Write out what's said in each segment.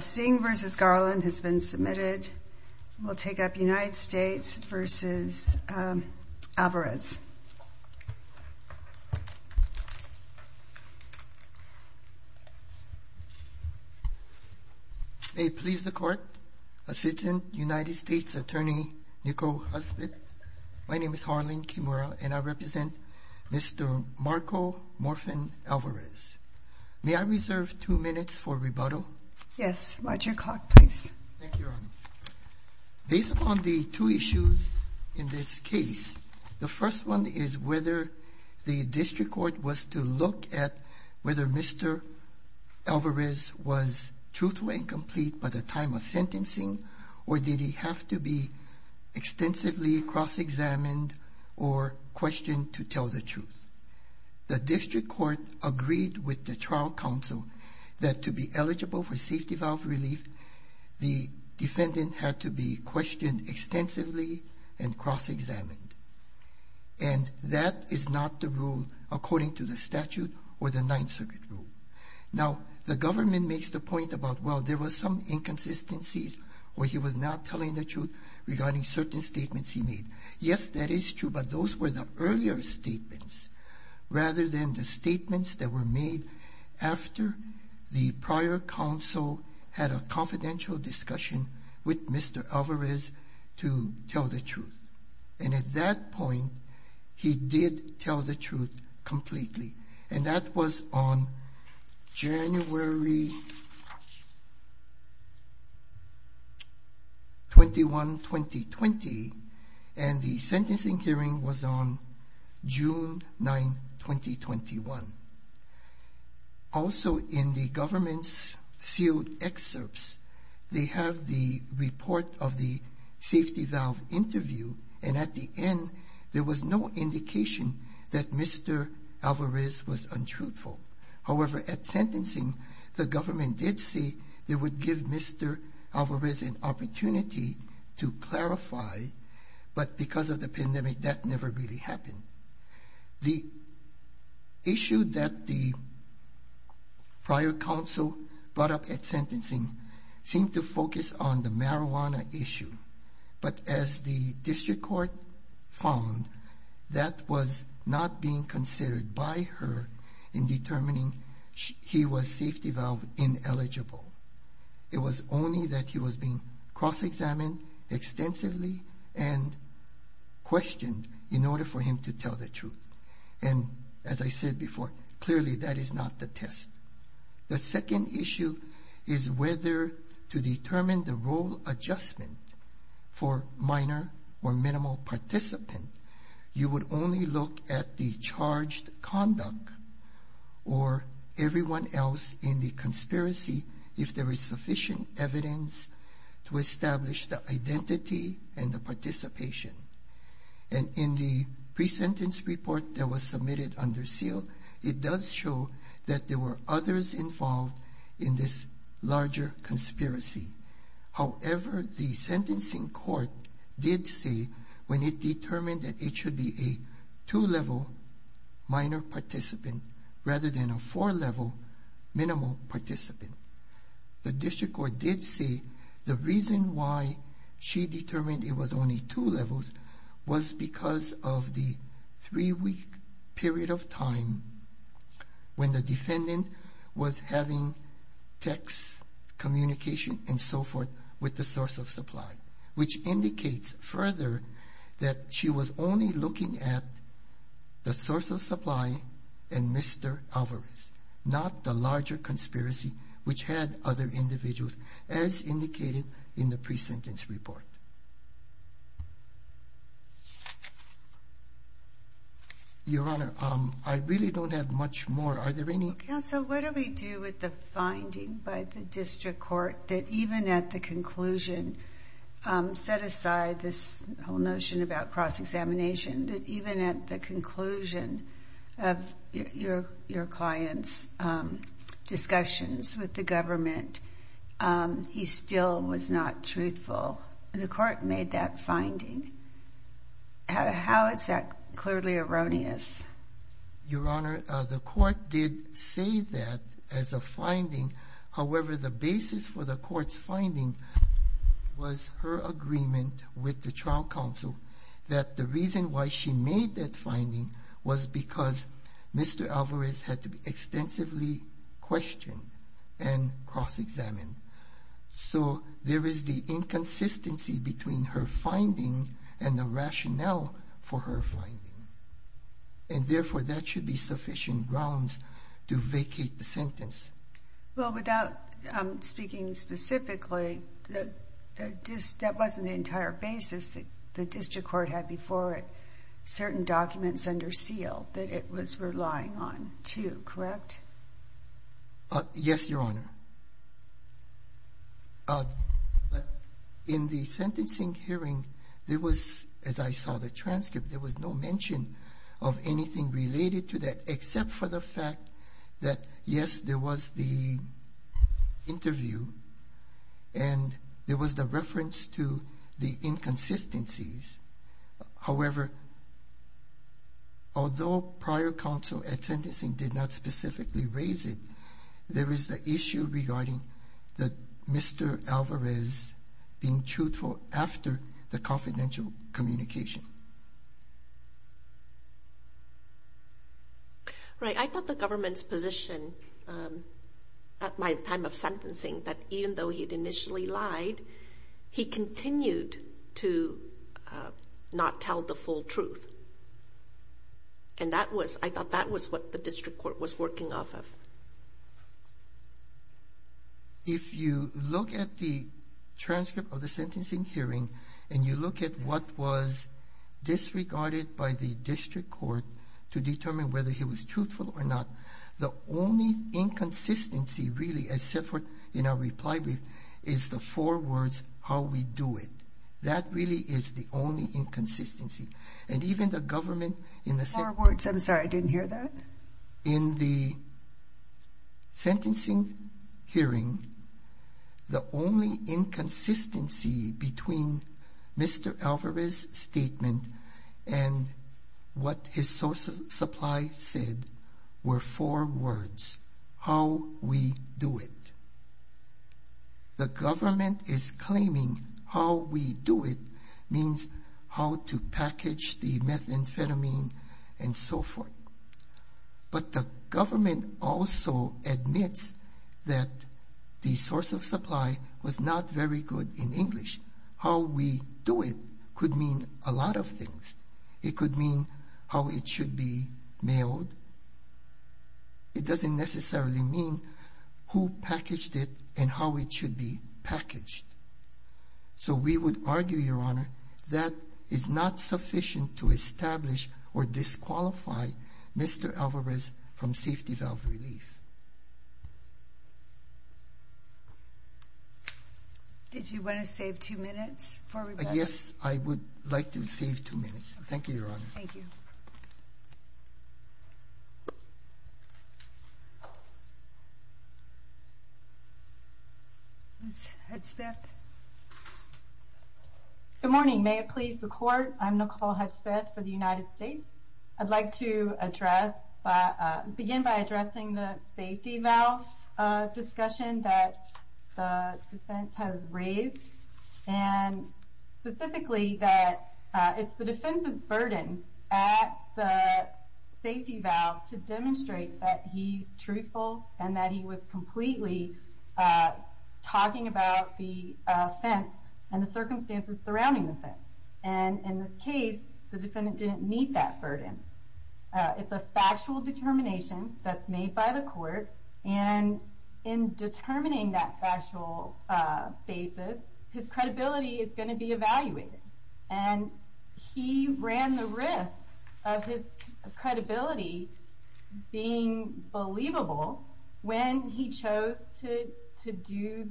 Singh v. Garland has been submitted. We'll take up United States v. Alvarez. May it please the court, a citizen, United States attorney, Niko Husbitt. My name is Harleen Kimura and I represent Mr. Marco Morfin Alvarez. May I reserve two minutes for rebuttal? Yes, Roger Clark please. Based upon the two issues in this case, the first one is whether the district court was to look at whether Mr. Alvarez was truthful and complete by the time of sentencing or did he have to be extensively cross-examined or questioned to tell the truth. The district court agreed with the trial counsel that to be eligible for safety valve relief, the defendant had to be questioned extensively and cross-examined and that is not the rule according to the statute or the Ninth Circuit rule. Now the government makes the point about, well, there was some inconsistencies where he was not telling the truth regarding certain statements he made. Yes, that is true, but those were the earlier statements rather than the statements that were made after the prior counsel had a confidential discussion with Mr. Alvarez to tell the truth. And at that point, he did tell the truth completely and that was on January 21, 2020, and the sentencing hearing was on June 9, 2021. Also in the government's sealed excerpts, they have the report of the safety valve interview and at the was no indication that Mr. Alvarez was untruthful. However, at sentencing, the government did say they would give Mr. Alvarez an opportunity to clarify, but because of the pandemic, that never really happened. The issue that the prior counsel brought up at sentencing seemed to focus on the that was not being considered by her in determining he was safety valve ineligible. It was only that he was being cross-examined extensively and questioned in order for him to tell the truth. And as I said before, clearly that is not the test. The second issue is whether to determine the participant, you would only look at the charged conduct or everyone else in the conspiracy if there is sufficient evidence to establish the identity and the participation. And in the pre-sentence report that was submitted under seal, it does show that there were others involved in this larger conspiracy. However, the sentencing court did say when it determined that it should be a two-level minor participant rather than a four-level minimal participant. The district court did say the reason why she determined it was only two levels was because of the three-week period of time when the so forth with the source of supply, which indicates further that she was only looking at the source of supply and Mr. Alvarez, not the larger conspiracy, which had other individuals as indicated in the pre-sentence report. Your Honor, I really don't have much more. Are there any counsel? What do we do with the finding by the district court that even at the conclusion, set aside this whole notion about cross-examination, that even at the conclusion of your client's discussions with the government, he still was not truthful? The court made that finding. How is that clearly erroneous? Your Honor, the court did say that as a finding. However, the basis for the court's finding was her agreement with the trial counsel that the reason why she made that finding was because Mr. Alvarez had to extensively question and cross-examine. So there is the inconsistency between her finding and the rationale for her grounds to vacate the sentence. Well, without speaking specifically, that wasn't the entire basis that the district court had before it. Certain documents under seal that it was relying on, too, correct? Yes, Your Honor. In the sentencing hearing, there was, as I saw the transcript, there was no mention of anything related to that except for the fact that, yes, there was the interview and there was the reference to the inconsistencies. However, although prior counsel at sentencing did not specifically raise it, there is the issue regarding Mr. Alvarez being truthful after the confidential communication. Right. I thought the government's position at my time of sentencing, that even though he'd initially lied, he continued to not tell the full truth. And that was, I thought that was what the district court was working off of. If you look at the transcript of the sentencing hearing and you look at what was disregarded by the district court to determine whether he was truthful or not, the only inconsistency, really, except for in our reply brief, is the four words, how we do it. That really is the only inconsistency. And even the government in the sentence... And in the sentencing hearing, the only inconsistency between Mr. Alvarez's statement and what his source of supply said were four words, how we do it. The government is claiming how we do it means how to package the methamphetamine and so forth. But the government also admits that the source of supply was not very good in English. How we do it could mean a lot of things. It could mean how it should be mailed. It doesn't necessarily mean who packaged it and how it should be packaged. So we would argue, Your Honor, that is not sufficient to establish or disqualify Mr. Alvarez from safety valve relief. Did you want to save two minutes for rebuttal? Yes, I would like to save two minutes. Thank you, Your Honor. Thank you. Good morning. May it please the court. I'm Nicole Hedspeth for the United States. I'd like to begin by addressing the safety valve discussion that the defendant made a safety valve to demonstrate that he's truthful and that he was completely talking about the offense and the circumstances surrounding the offense. And in this case, the defendant didn't meet that burden. It's a factual determination that's made by the court. And in determining that factual basis, his credibility is going to be evaluated. And he ran the risk of his credibility being believable when he chose to do the that were easy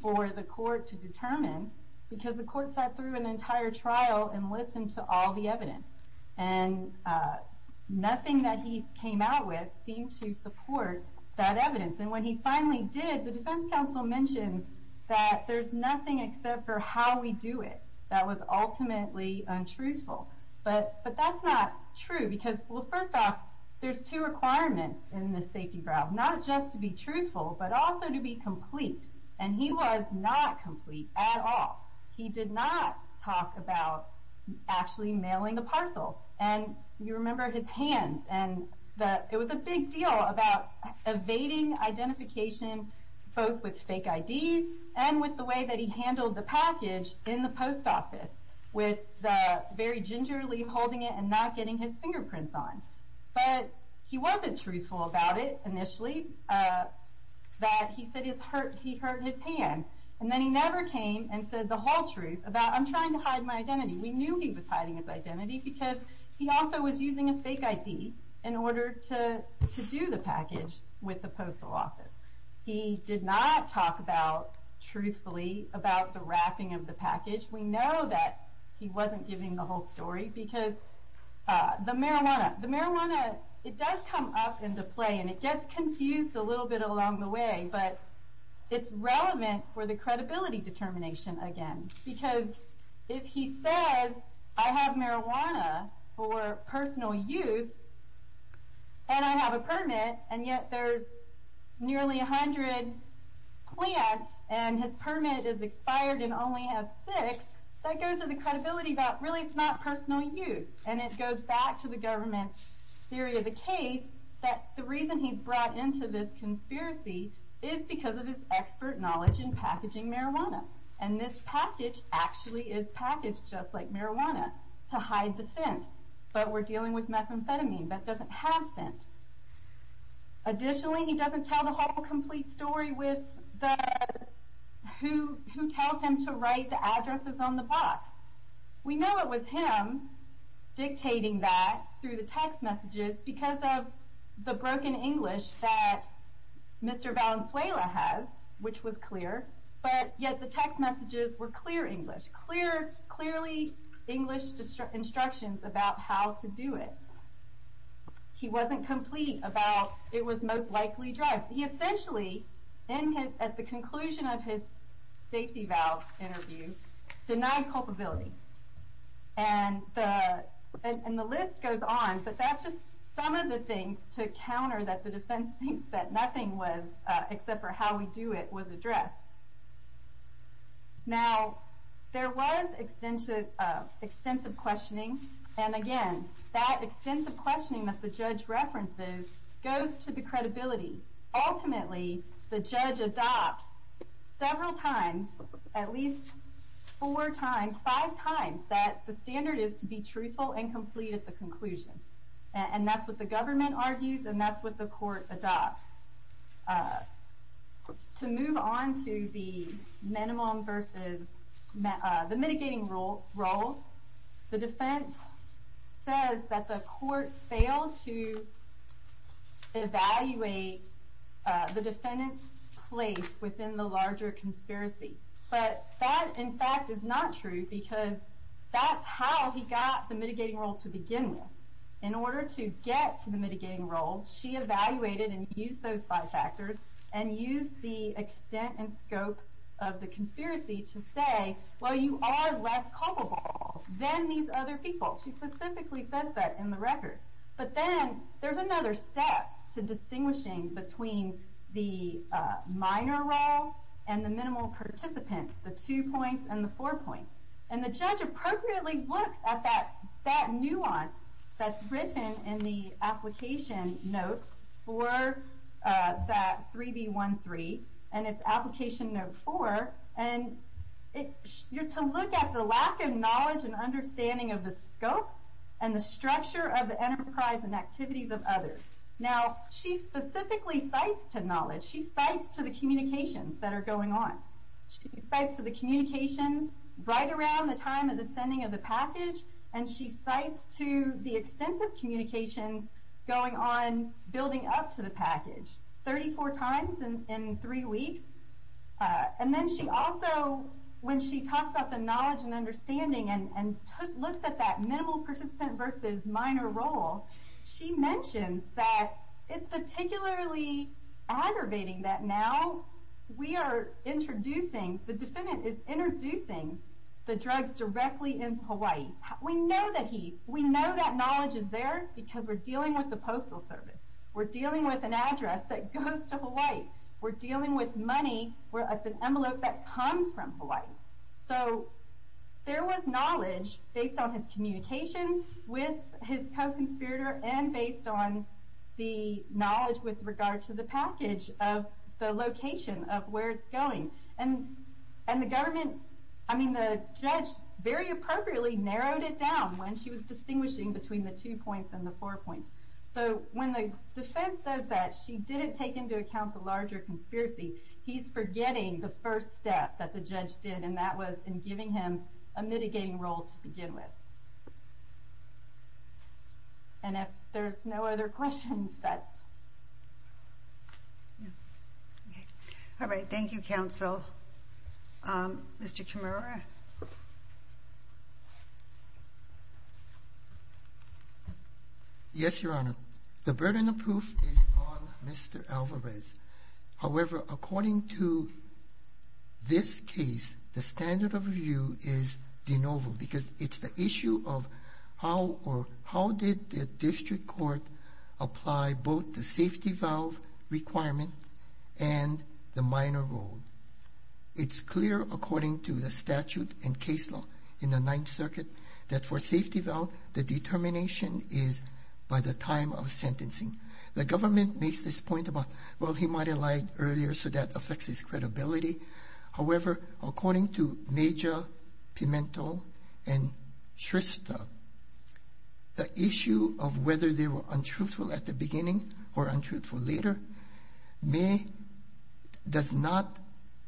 for the court to determine because the court sat through an entire trial and listened to all the evidence. And nothing that he came out with seemed to support that evidence. And when he finally did, the defense counsel mentioned that there's nothing except for how we do it that was ultimately untruthful. But that's not true because, well, first off, there's two requirements in the safety valve, not just to be truthful, but also to be complete. And he was not complete at all. He did not talk about actually mailing the parcel. And you remember his hands and that it was a big deal about evading identification, both with very gingerly holding it and not getting his fingerprints on. But he wasn't truthful about it initially, that he said he hurt his hand. And then he never came and said the whole truth about I'm trying to hide my identity. We knew he was hiding his identity because he also was using a fake ID in order to do the package with the postal office. He did not talk about truthfully about the wrapping of the package. We know that he wasn't giving the whole story because the marijuana, the marijuana, it does come up into play and it gets confused a little bit along the way, but it's relevant for the credibility determination again, because if he says I nearly a hundred quads and his permit is expired and only has six, that goes to the credibility that really it's not personal use. And it goes back to the government's theory of the case that the reason he's brought into this conspiracy is because of his expert knowledge in packaging marijuana. And this package actually is packaged just like he said, but he doesn't tell the whole complete story with the, who, who tells him to write the addresses on the box. We know it was him dictating that through the text messages because of the broken English that Mr. Valenzuela has, which was clear, but yet the text messages were clear English, clear, clearly English instructions about how to do it. He wasn't complete about it was most likely drugs. He essentially in his, at the conclusion of his safety valve interview, denied culpability. And the, and the list goes on, but that's just some of the things to counter that the defense thinks that nothing was, except for how we do it, was addressed. Now there was extensive, extensive questioning. And again, that extensive questioning that the judge references goes to the credibility. Ultimately, the judge adopts several times, at least four times, five times that the standard is to be truthful and complete at the conclusion. And that's what the government argues. And that's what the court adopts. To move on to the minimum versus the mitigating role, the defense says that the court failed to evaluate the defendant's place within the larger conspiracy. But that in fact is not true because that's how he got the mitigating role to begin with. In order to get to the mitigating role, she evaluated and used those five factors and used the extent and scope of the conspiracy to say, well, you are less culpable than these other people. She specifically says that in the record. But then there's another step to distinguishing between the minor role and the minimal participants, the two points and the four points. And the judge appropriately looked at that nuance that's written in the application notes for that 3B13 and its application note four. And you're to look at the lack of knowledge and understanding of the scope and the structure of the enterprise and activities of others. Now, she specifically cites to knowledge. She cites to the communications that are going on. She cites to the communications right around the time of the sending of the package. And she cites to the extensive communications going on building up to the package, 34 times in three weeks. And then she also, when she talks about the knowledge and understanding and looks at that minimal participant versus minor role, she mentions that it's particularly aggravating that now we are introducing, the defendant is introducing the drugs directly into Hawaii. We know that he's, we know that knowledge is there because we're dealing with the postal service. We're dealing with an address that goes to Hawaii. We're dealing with money that's an envelope that comes from Hawaii. So there was knowledge based on his communications with his co-conspirator and based on the knowledge with regard to the package of the location of where it's going. And the government, I mean, the judge very appropriately narrowed it down when she was distinguishing between the two points and the four points. So when the defense says that she didn't take into account the larger conspiracy, he's forgetting the first step that the judge did. And that was in giving him a mitigating role to begin with. And if there's no other questions that. Yeah. All right. Thank you, counsel. Mr. Kamara. Yes, Your Honor. The burden of proof is on Mr. Alvarez. However, according to this case, the standard of review is de novo because it's the issue of how or how did the district court apply both the safety valve requirement and the minor role. It's clear, according to the statute and case law in the Ninth Circuit, that for safety valve, the determination is by the time of sentencing. The government makes this point about, well, he might have lied earlier, so that affects his credibility. However, according to Major Pimentel and Shrista, the issue of whether they were untruthful at the beginning or untruthful later may, does not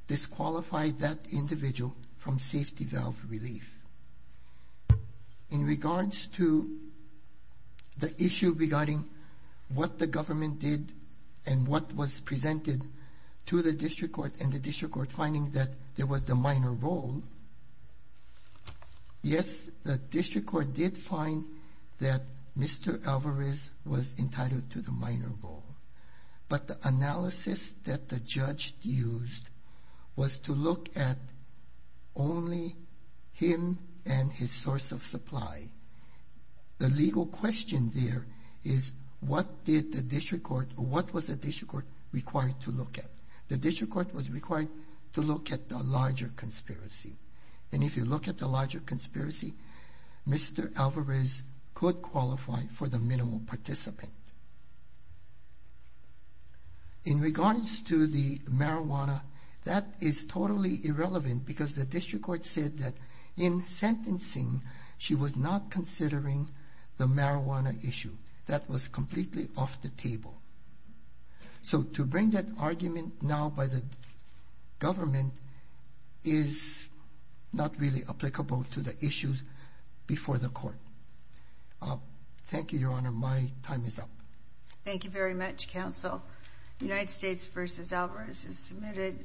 disqualify that individual from safety valve relief. In regards to the issue regarding what the government did and what was presented to the district court and the district court finding that there was the minor role. Yes, the district court did find that Mr. Alvarez was entitled to the minor role, but the analysis that the judge used was to look at only him and his source of supply. The legal question there is what did the district court, what was the district court required to look at? The district court was required to look at the larger conspiracy. And if you look at the larger conspiracy, Mr. Alvarez could qualify for the minimal participant. In regards to the marijuana, that is totally irrelevant because the district court said that in sentencing, she was not considering the marijuana issue. That was completely off the table. So to bring that argument now by the government is not really applicable to the issues before the court. Thank you, Your Honor. My time is up. Thank you very much, Counsel. United States v. Alvarez is submitted.